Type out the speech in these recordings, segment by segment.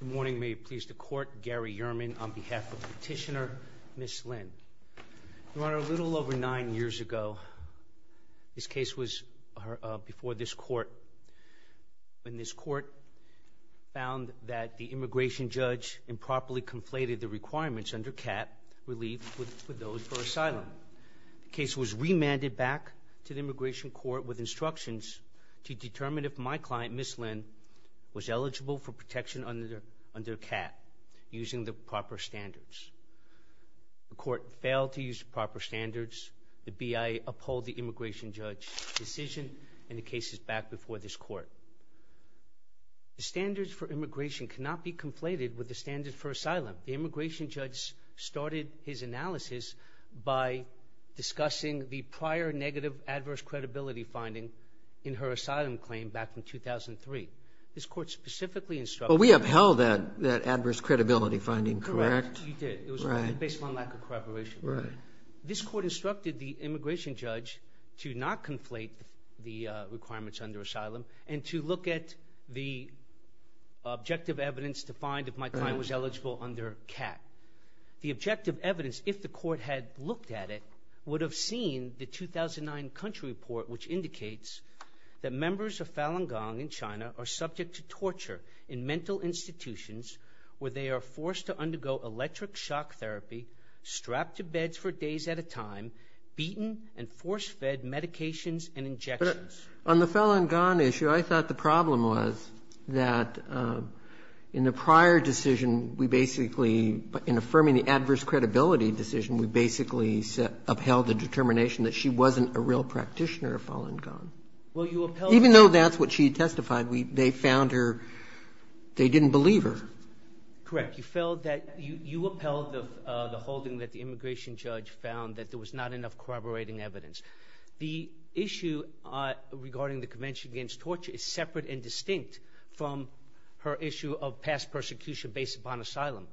Good morning. May it please the court, Gary Yerman on behalf of petitioner Ms. Lin. Your Honor, a little over nine years ago, this case was before this court, when this court found that the immigration judge improperly conflated the requirements under CAT relief for those for asylum. The case was remanded back to the immigration court with instructions to determine if my client, Ms. Lin, was eligible for protection under CAT, using the proper standards. The court failed to use the proper standards. The BIA uphold the immigration judge's decision, and the case is back before this court. The standards for immigration cannot be conflated with the standards for asylum. The immigration judge started his analysis by discussing the prior negative adverse credibility finding in her asylum claim back in 2003. This court specifically instructed... Well, we upheld that adverse credibility finding, correct? Correct. You did. It was based on lack of corroboration. This court instructed the immigration judge to not conflate the requirements under asylum and to look at the objective evidence to find if my client was eligible under CAT. The objective evidence, if the court had looked at it, would have seen the 2009 country report, which indicates that members of Falun Gong in China are subject to torture in mental institutions where they are forced to undergo electric shock therapy, strapped to beds for days at a time, beaten, and force-fed medications and injections. But on the Falun Gong issue, I thought the problem was that in the prior decision, we basically, in affirming the adverse credibility decision, we basically upheld the determination that she wasn't a real practitioner of Falun Gong. Well, you upheld... Even though that's what she testified, they found her they didn't believe her. Correct. You felt that you upheld the holding that the immigration judge found, that there was not enough corroborating evidence. The issue regarding the Convention Against Torture is separate and distinct from her issue of past persecution based upon asylum.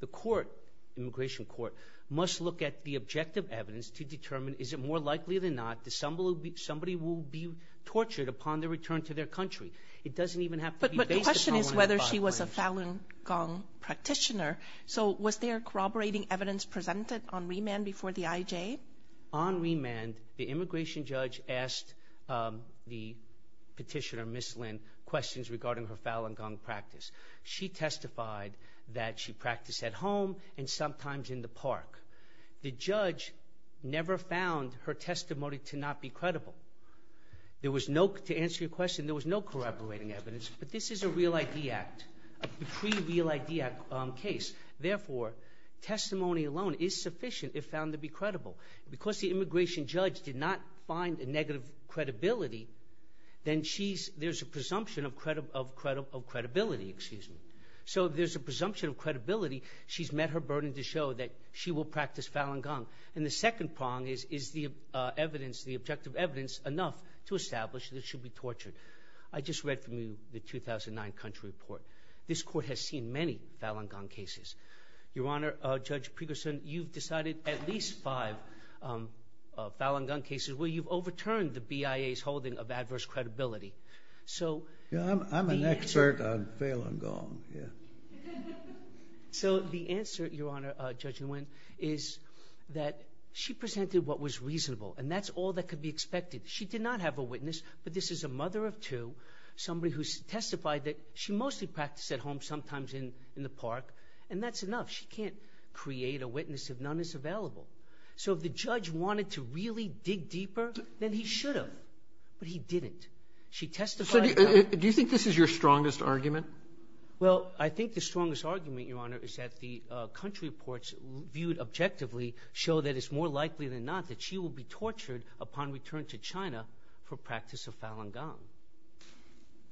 The court, immigration court, must look at the objective evidence to determine, is it more likely than not that somebody will be tortured upon their return to their country? It doesn't even have to be based upon... But the question is whether she was a Falun Gong practitioner. So was there corroborating evidence presented on remand before the IJ? On remand, the immigration judge asked the petitioner, Ms. Lin, questions regarding her Falun Gong practice. She testified that she practiced at home and sometimes in the park. The judge never found her testimony to not be credible. To answer your question, there was no corroborating evidence, but this is a Real ID Act, a pre-Real ID Act case. Therefore, testimony alone is sufficient if found to be credible. Because the immigration judge did not find a negative credibility, then there's a presumption of credibility. So there's a presumption of credibility. She's met her burden to show that she will practice Falun Gong. And the second prong is, is the objective evidence enough to establish that she'll be tortured? I just read from you the 2009 country report. This court has seen many Falun Gong cases. Your Honor, Judge Pregerson, you've decided at least five Falun Gong cases where you've overturned the BIA's holding of adverse credibility. I'm an expert on Falun Gong. So the answer, Your Honor, Judge Nguyen, is that she presented what was reasonable, and that's all that could be expected. She did not have a witness, but this is a mother of two, somebody who testified that she mostly practiced at home, sometimes in the park. And that's enough. She can't create a witness if none is available. So if the judge wanted to really dig deeper, then he should have. But he didn't. She testified that. Do you think this is your strongest argument? Well, I think the strongest argument, Your Honor, is that the country reports viewed objectively show that it's more likely than not that she will be tortured upon return to China for practice of Falun Gong.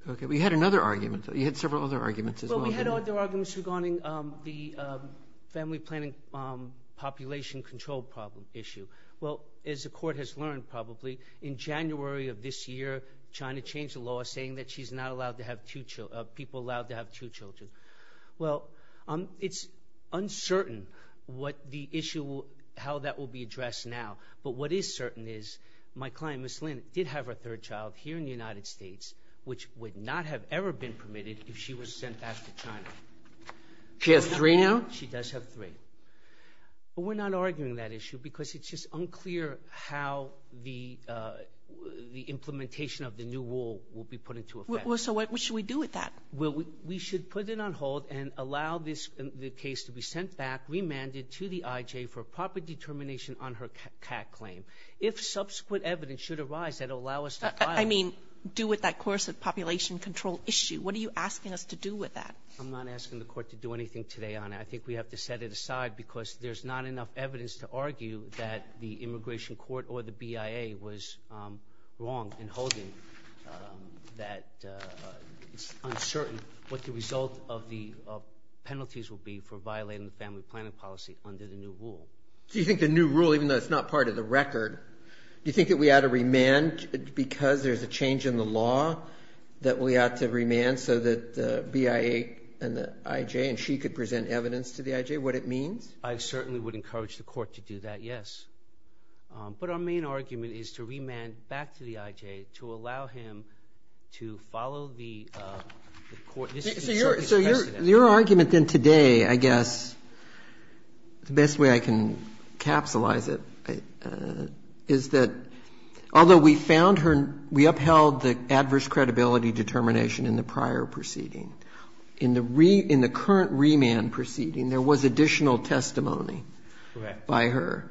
Okay. We had another argument. You had several other arguments as well. Well, we had other arguments regarding the family planning population control problem issue. Well, as the court has learned probably, in January of this year, China changed the law saying that she's not allowed to have two children, people allowed to have two children. Well, it's uncertain how that will be addressed now. But what is certain is my client, Ms. Lin, did have her third child here in the United States, which would not have ever been permitted if she was sent back to China. She has three now? She does have three. But we're not arguing that issue because it's just unclear how the implementation of the new rule will be put into effect. So what should we do with that? Well, we should put it on hold and allow the case to be sent back, remanded to the IJ, for proper determination on her CAC claim. If subsequent evidence should arise that will allow us to file it. I mean, do with that course of population control issue. What are you asking us to do with that? I'm not asking the court to do anything today, Honor. I think we have to set it aside because there's not enough evidence to argue that the immigration court or the BIA was wrong in holding that it's uncertain what the result of the penalties will be for violating the family planning policy under the new rule. Do you think the new rule, even though it's not part of the record, do you think that we ought to remand because there's a change in the law that we ought to remand so that the BIA and the IJ and she could present evidence to the IJ, what it means? I certainly would encourage the court to do that, yes. But our main argument is to remand back to the IJ to allow him to follow the court decision. So your argument then today, I guess, the best way I can capsulize it, is that although we found her, we upheld the adverse credibility determination in the prior proceeding, in the current remand proceeding there was additional testimony by her.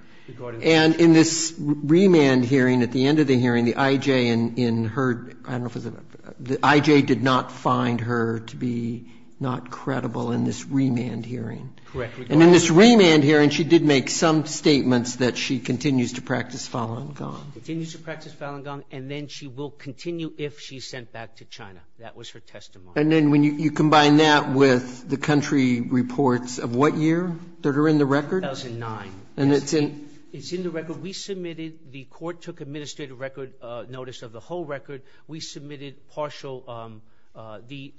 And in this remand hearing, at the end of the hearing, the IJ in her, I don't know if it was the IJ did not find her to be not credible in this remand hearing. Correct. And in this remand hearing she did make some statements that she continues to practice file-and-gone. She continues to practice file-and-gone, and then she will continue if she's sent back to China. That was her testimony. And then when you combine that with the country reports of what year that are in the record? 2009. And it's in? It's in the record. We submitted, the court took administrative record notice of the whole record. We submitted partial, the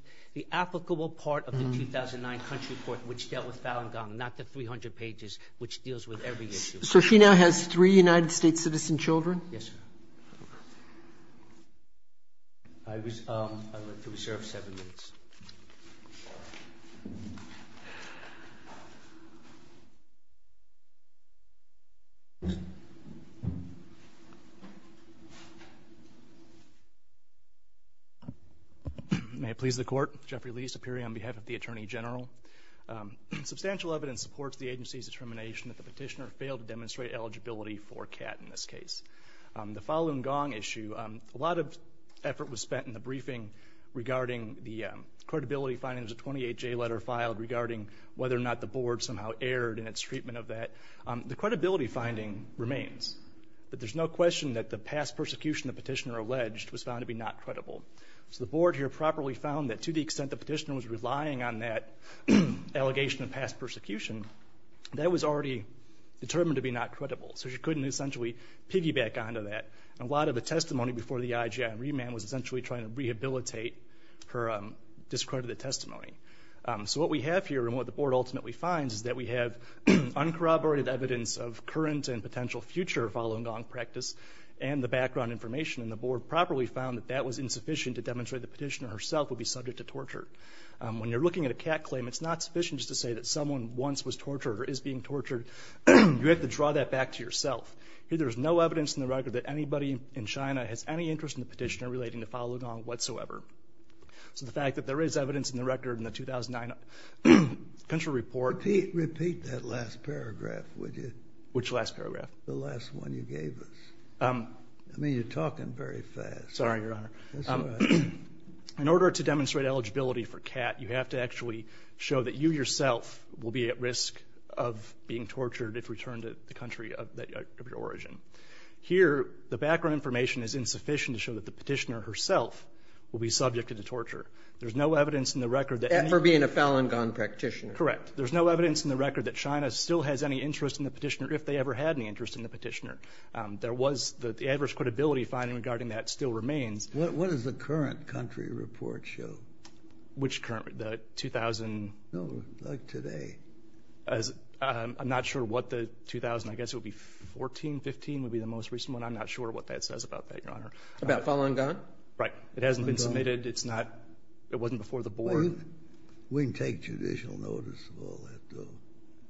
applicable part of the 2009 country report, which dealt with file-and-gone, not the 300 pages, which deals with every issue. So she now has three United States citizen children? Yes, sir. I was, I'm going to reserve seven minutes. May it please the court, Jeffrey Lee, Superior, on behalf of the Attorney General. Substantial evidence supports the agency's determination that the petitioner failed to demonstrate eligibility for CAT in this case. The file-and-gone issue, a lot of effort was spent in the briefing regarding the credibility finding, there's a 28-J letter filed regarding whether or not the board somehow erred in its treatment of that. The credibility finding remains. But there's no question that the past persecution the petitioner alleged was found to be not credible. So the board here properly found that to the extent the petitioner was relying on that allegation of past persecution, that was already determined to be not credible. So she couldn't essentially piggyback onto that. A lot of the testimony before the IGI remand was essentially trying to rehabilitate her discredited testimony. So what we have here and what the board ultimately finds is that we have uncorroborated evidence of current and potential future file-and-gone practice and the background information. And the board properly found that that was insufficient to demonstrate the petitioner herself would be subject to torture. When you're looking at a CAT claim, it's not sufficient just to say that someone once was tortured or is being tortured. You have to draw that back to yourself. There's no evidence in the record that anybody in China has any interest in the petitioner relating to file-and-gone whatsoever. So the fact that there is evidence in the record in the 2009 country report. Repeat that last paragraph, would you? Which last paragraph? The last one you gave us. I mean, you're talking very fast. Sorry, Your Honor. In order to demonstrate eligibility for CAT, you have to actually show that you yourself will be at risk of being tortured if returned to the country of your origin. Here, the background information is insufficient to show that the petitioner herself will be subject to the torture. There's no evidence in the record that any of you. For being a file-and-gone practitioner. Correct. There's no evidence in the record that China still has any interest in the petitioner if they ever had any interest in the petitioner. There was the adverse credibility finding regarding that still remains. What does the current country report show? Which current? The 2000? No, like today. I'm not sure what the 2000. I guess it would be 14, 15 would be the most recent one. I'm not sure what that says about that, Your Honor. About file-and-gone? Right. It hasn't been submitted. It's not. It wasn't before the board. We can take judicial notice of all that, though.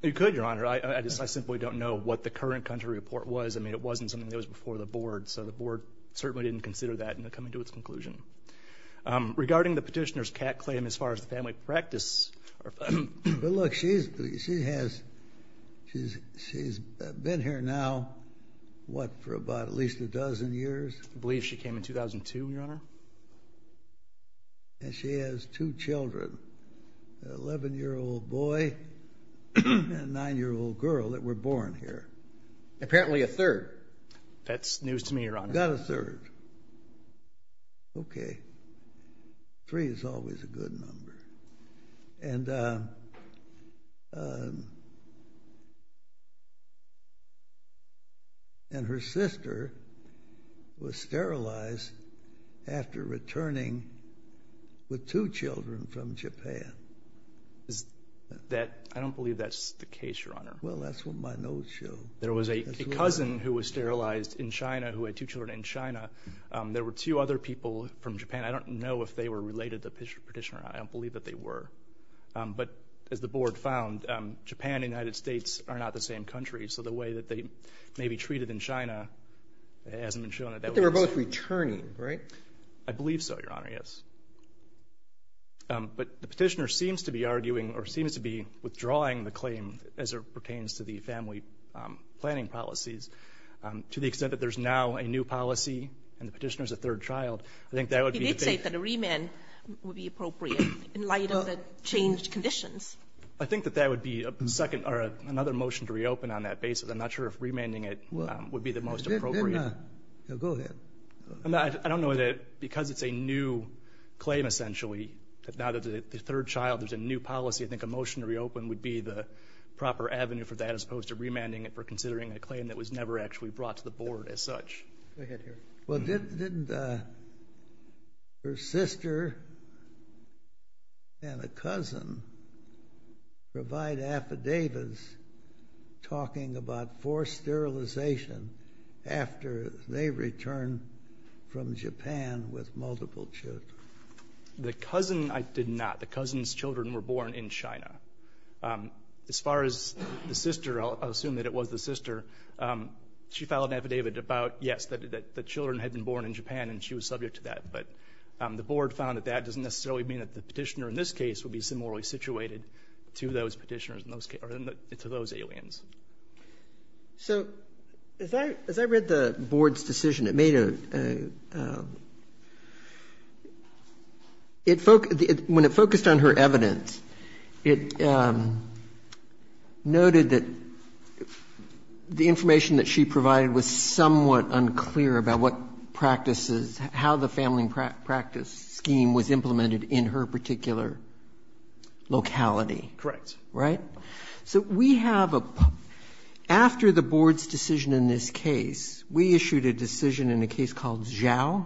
You could, Your Honor. I just simply don't know what the current country report was. I mean, it wasn't something that was before the board. So the board certainly didn't consider that in coming to its conclusion. Regarding the petitioner's cat claim as far as the family practice. Well, look, she has been here now, what, for about at least a dozen years? I believe she came in 2002, Your Honor. And she has two children, an 11-year-old boy and a 9-year-old girl that were born here. Apparently a third. That's news to me, Your Honor. I've got a third. Okay. Three is always a good number. And her sister was sterilized after returning with two children from Japan. I don't believe that's the case, Your Honor. Well, that's what my notes show. There was a cousin who was sterilized in China who had two children in China. There were two other people from Japan. I don't know if they were related to the petitioner. I don't believe that they were. But as the board found, Japan and the United States are not the same country. So the way that they may be treated in China hasn't been shown. But they were both returning, right? I believe so, Your Honor, yes. But the petitioner seems to be arguing or seems to be withdrawing the claim as it pertains to the family planning policies to the extent that there's now a new policy and the petitioner is a third child. I think that would be the case. He did say that a remand would be appropriate in light of the changed conditions. I think that that would be a second or another motion to reopen on that basis. I'm not sure if remanding it would be the most appropriate. It did not. Go ahead. I don't know that because it's a new claim, essentially, that now that the third child is a new policy, I think a motion to reopen would be the proper avenue for that as opposed to remanding it for considering a claim that was never actually brought to the board as such. Go ahead, Your Honor. Well, didn't her sister and a cousin provide affidavits talking about forced sterilization after they returned from Japan with multiple children? The cousin did not. The cousin's children were born in China. As far as the sister, I'll assume that it was the sister. She filed an affidavit about, yes, that the children had been born in Japan, and she was subject to that. But the board found that that doesn't necessarily mean that the petitioner in this case would be similarly situated to those petitioners or to those aliens. So as I read the board's decision, it made a – when it focused on her evidence, it noted that the information that she provided was somewhat unclear about what practices – how the family practice scheme was implemented in her particular locality. Correct. Right? So we have a – after the board's decision in this case, we issued a decision in a case called Zhao.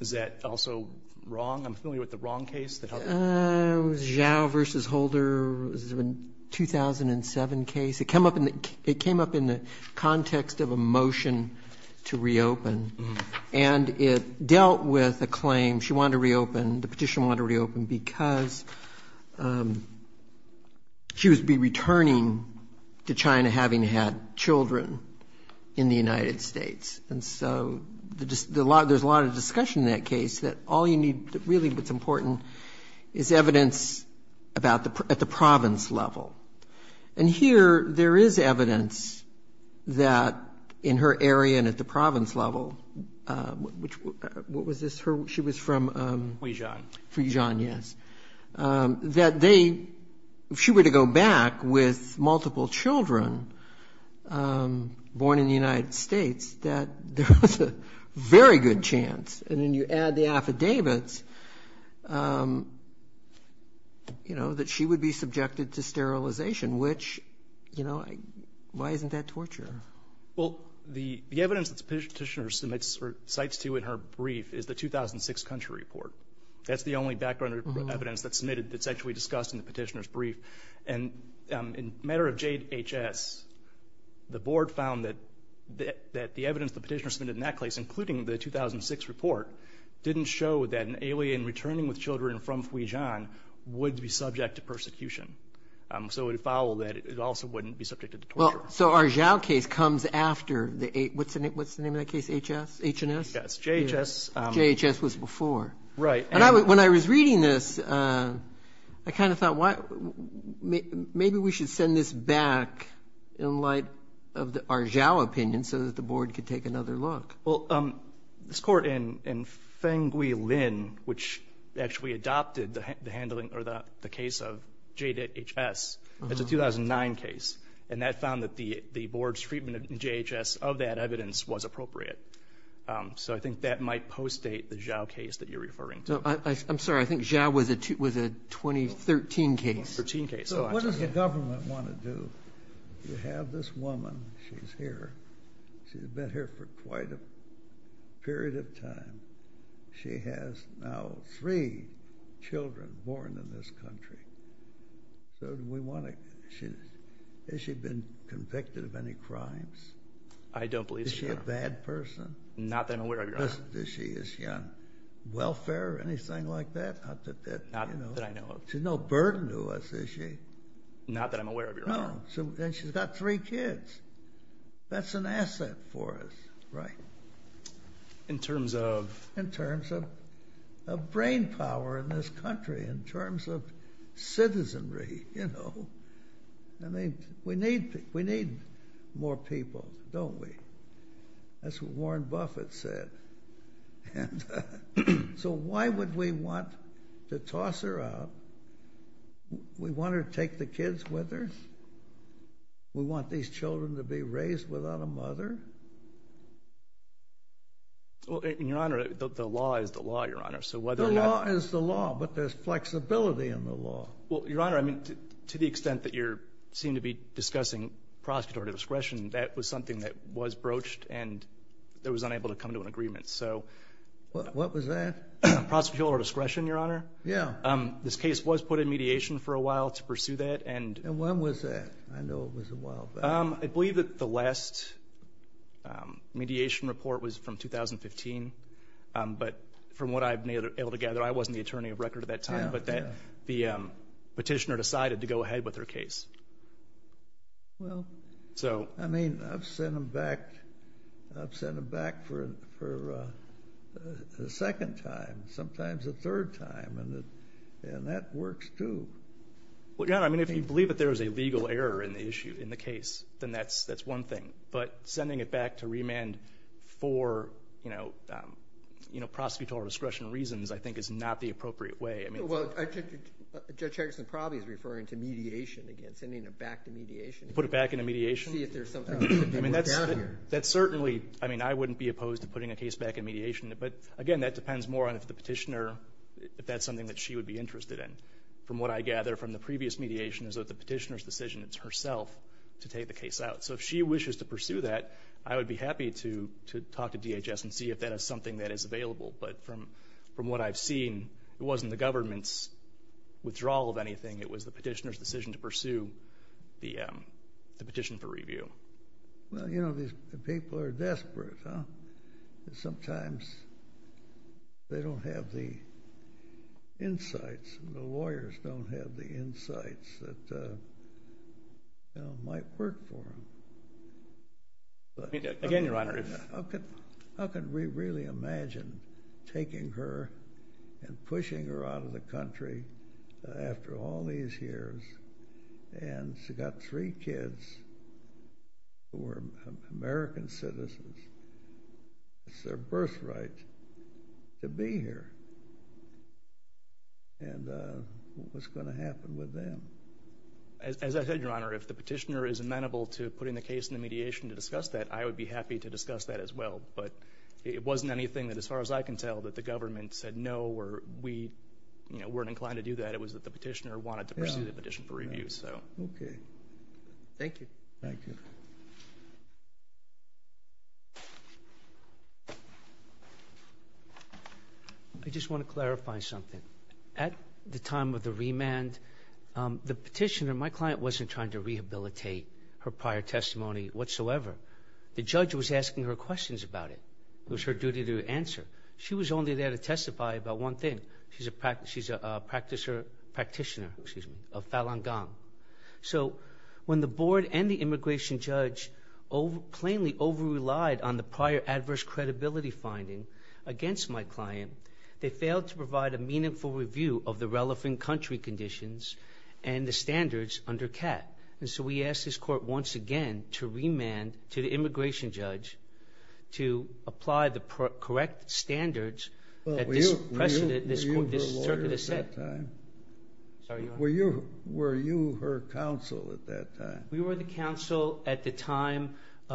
Is that also wrong? I'm familiar with the wrong case. It was Zhao v. Holder. It was a 2007 case. It came up in the context of a motion to reopen. And it dealt with a claim. She wanted to reopen. The petitioner wanted to reopen because she would be returning to China having had children in the United States. And so there's a lot of discussion in that case that all you need, really what's important, is evidence about the – at the province level. And here there is evidence that in her area and at the province level, which – what was this? Her – she was from? Fuzhoun, yes. That they – if she were to go back with multiple children born in the United States, that there was a very good chance, and then you add the affidavits, you know, that she would be subjected to sterilization, which, you know, why isn't that torture? Well, the evidence that the petitioner submits or cites to in her brief is the 2006 country report. That's the only background evidence that's submitted that's actually discussed in the petitioner's brief. And in a matter of JHS, the board found that the evidence the petitioner submitted in that case, including the 2006 report, didn't show that an alien returning with children from Fuzhoun would be subject to persecution. So it would follow that it also wouldn't be subjected to torture. So our Zhao case comes after the – what's the name of that case? HS? H&S? JHS. JHS was before. Right. And I – when I was reading this, I kind of thought, why – maybe we should send this back in light of our Zhao opinion so that the board could take another look. Well, this court in Fenghui Lin, which actually adopted the handling – or the board's treatment in JHS of that evidence was appropriate. So I think that might post-date the Zhao case that you're referring to. I'm sorry. I think Zhao was a 2013 case. 2013 case. So what does the government want to do? You have this woman. She's here. She's been here for quite a period of time. She has now three children born in this country. So do we want to – has she been convicted of any crimes? I don't believe so, Your Honor. Is she a bad person? Not that I'm aware of, Your Honor. Is she on welfare or anything like that? Not that I know of. She's no burden to us, is she? Not that I'm aware of, Your Honor. No. And she's got three kids. That's an asset for us, right? In terms of? Of brain power in this country, in terms of citizenry. We need more people, don't we? That's what Warren Buffett said. So why would we want to toss her out? We want her to take the kids with her? We want these children to be raised without a mother? Well, Your Honor, the law is the law, Your Honor. The law is the law, but there's flexibility in the law. Well, Your Honor, to the extent that you seem to be discussing prosecutorial discretion, that was something that was broached and that was unable to come to an agreement. What was that? Prosecutorial discretion, Your Honor. Yeah. This case was put in mediation for a while to pursue that. And when was that? I know it was a while back. I believe that the last mediation report was from 2015. But from what I've been able to gather, I wasn't the attorney of record at that time, but that the petitioner decided to go ahead with her case. Well, I mean, I've sent them back for a second time, sometimes a third time, and that works too. Well, Your Honor, I mean, if you believe that there is a legal error in the issue, in the case, then that's one thing. But sending it back to remand for, you know, prosecutorial discretion reasons, I think, is not the appropriate way. Well, Judge Hagerston probably is referring to mediation again, sending it back to mediation. Put it back into mediation. See if there's something that could be worked out here. I mean, that's certainly, I mean, I wouldn't be opposed to putting a case back in mediation. But, again, that depends more on if the petitioner, if that's something that she would be interested in. From what I gather from the previous mediation is that the petitioner's decision, it's herself to take the case out. So if she wishes to pursue that, I would be happy to talk to DHS and see if that is something that is available. But from what I've seen, it wasn't the government's withdrawal of anything. It was the petitioner's decision to pursue the petition for review. Well, you know, these people are desperate, huh? Sometimes they don't have the insights and the lawyers don't have the insights that, you know, might work for them. Again, Your Honor. How could we really imagine taking her and pushing her out of the country after all these years? And she's got three kids who are American citizens. It's their birthright to be here. And what's going to happen with them? As I said, Your Honor, if the petitioner is amenable to putting the case in the mediation to discuss that, I would be happy to discuss that as well. But it wasn't anything that, as far as I can tell, that the government said no or we, you know, weren't inclined to do that. It was that the petitioner wanted to pursue the petition for review, so. Okay. Thank you. Thank you. I just want to clarify something. At the time of the remand, the petitioner, my client, wasn't trying to rehabilitate her prior testimony whatsoever. The judge was asking her questions about it. It was her duty to answer. She was only there to testify about one thing. She's a practitioner of Falun Gong. So when the board and the immigration judge plainly overrelied on the prior adverse credibility finding against my client, they failed to provide a meaningful review of the relevant country conditions and the standards under CAT. And so we asked this court once again to remand to the immigration judge to apply the correct standards. Were you her lawyer at that time? Sorry, Your Honor? Were you her counsel at that time? We were the counsel at the time.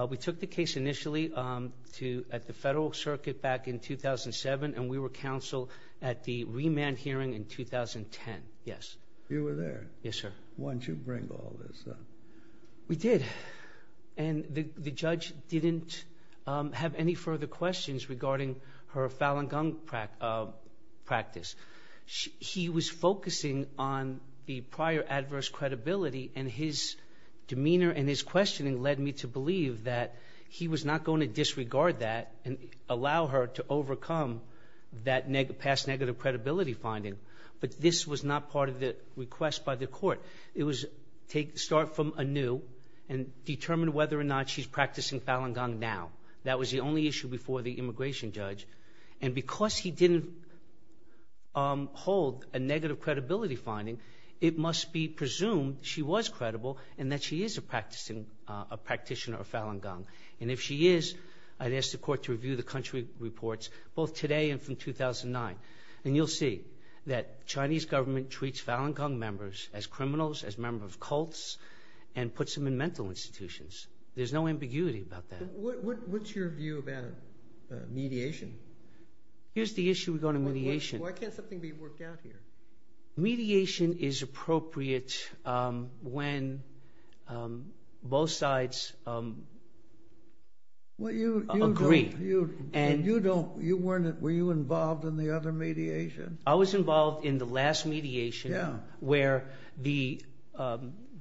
We took the case initially at the Federal Circuit back in 2007, and we were counsel at the remand hearing in 2010, yes. You were there? Yes, sir. Once you bring all this up. We did. And the judge didn't have any further questions regarding her Falun Gong practice. He was focusing on the prior adverse credibility, and his demeanor and his questioning led me to believe that he was not going to disregard that and allow her to overcome that past negative credibility finding. But this was not part of the request by the court. It was start from anew and determine whether or not she's practicing Falun Gong now. That was the only issue before the immigration judge. And because he didn't hold a negative credibility finding, it must be presumed she was credible and that she is a practitioner of Falun Gong. And if she is, I'd ask the court to review the country reports both today and from 2009. And you'll see that Chinese government treats Falun Gong members as criminals, as members of cults, and puts them in mental institutions. There's no ambiguity about that. What's your view about mediation? Here's the issue regarding mediation. Why can't something be worked out here? Mediation is appropriate when both sides agree. Were you involved in the other mediation? I was involved in the last mediation where the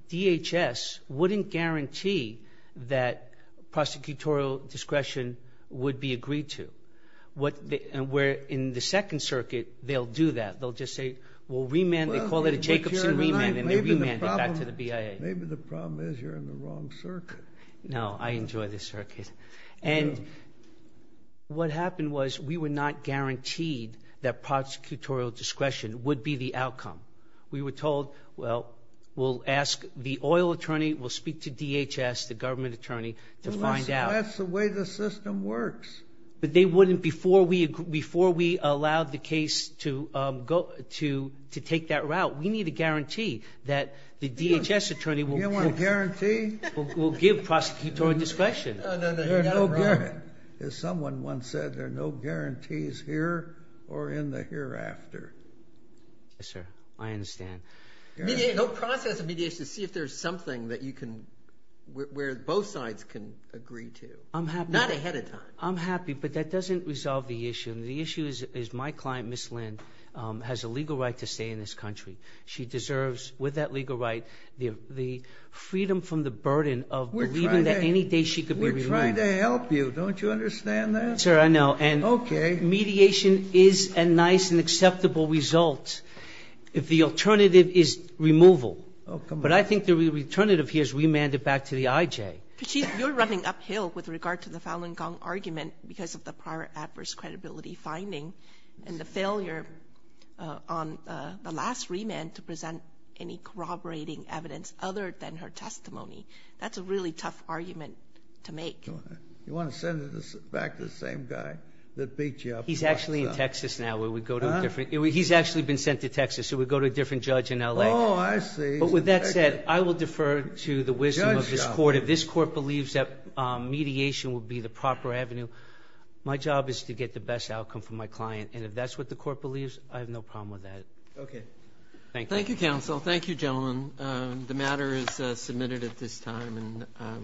DHS wouldn't guarantee that prosecutorial discretion would be agreed to. Where in the Second Circuit, they'll do that. They'll just say, well, remand. They call it a Jacobson remand, and they remand it back to the BIA. Maybe the problem is you're in the wrong circuit. No, I enjoy this circuit. And what happened was we were not guaranteed that prosecutorial discretion would be the outcome. We were told, well, we'll ask the oil attorney, we'll speak to DHS, the government attorney, to find out. That's the way the system works. But they wouldn't before we allowed the case to take that route. We need a guarantee that the DHS attorney will give prosecutorial discretion. As someone once said, there are no guarantees here or in the hereafter. Yes, sir. I understand. No process of mediation to see if there's something that you can, where both sides can agree to. I'm happy. Not ahead of time. I'm happy, but that doesn't resolve the issue. And the issue is my client, Ms. Lynn, has a legal right to stay in this country. She deserves, with that legal right, the freedom from the burden of believing that any day she could be removed. We're trying to help you. Don't you understand that? Sir, I know. Okay. And mediation is a nice and acceptable result if the alternative is removal. Oh, come on. But I think the alternative here is remand it back to the IJ. You're running uphill with regard to the Falun Gong argument because of the prior adverse credibility finding and the failure on the last remand to present any corroborating evidence other than her testimony. That's a really tough argument to make. You want to send it back to the same guy that beat you up? He's actually in Texas now. He's actually been sent to Texas. He would go to a different judge in L.A. Oh, I see. But with that said, I will defer to the wisdom of this court. If this court believes that mediation would be the proper avenue, my job is to get the best outcome for my client. And if that's what the court believes, I have no problem with that. Okay. Thank you. Thank you, counsel. Thank you, gentlemen. The matter is submitted at this time. And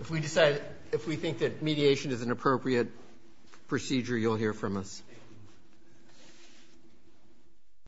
if we think that mediation is an appropriate procedure, you'll hear from us. Thank you.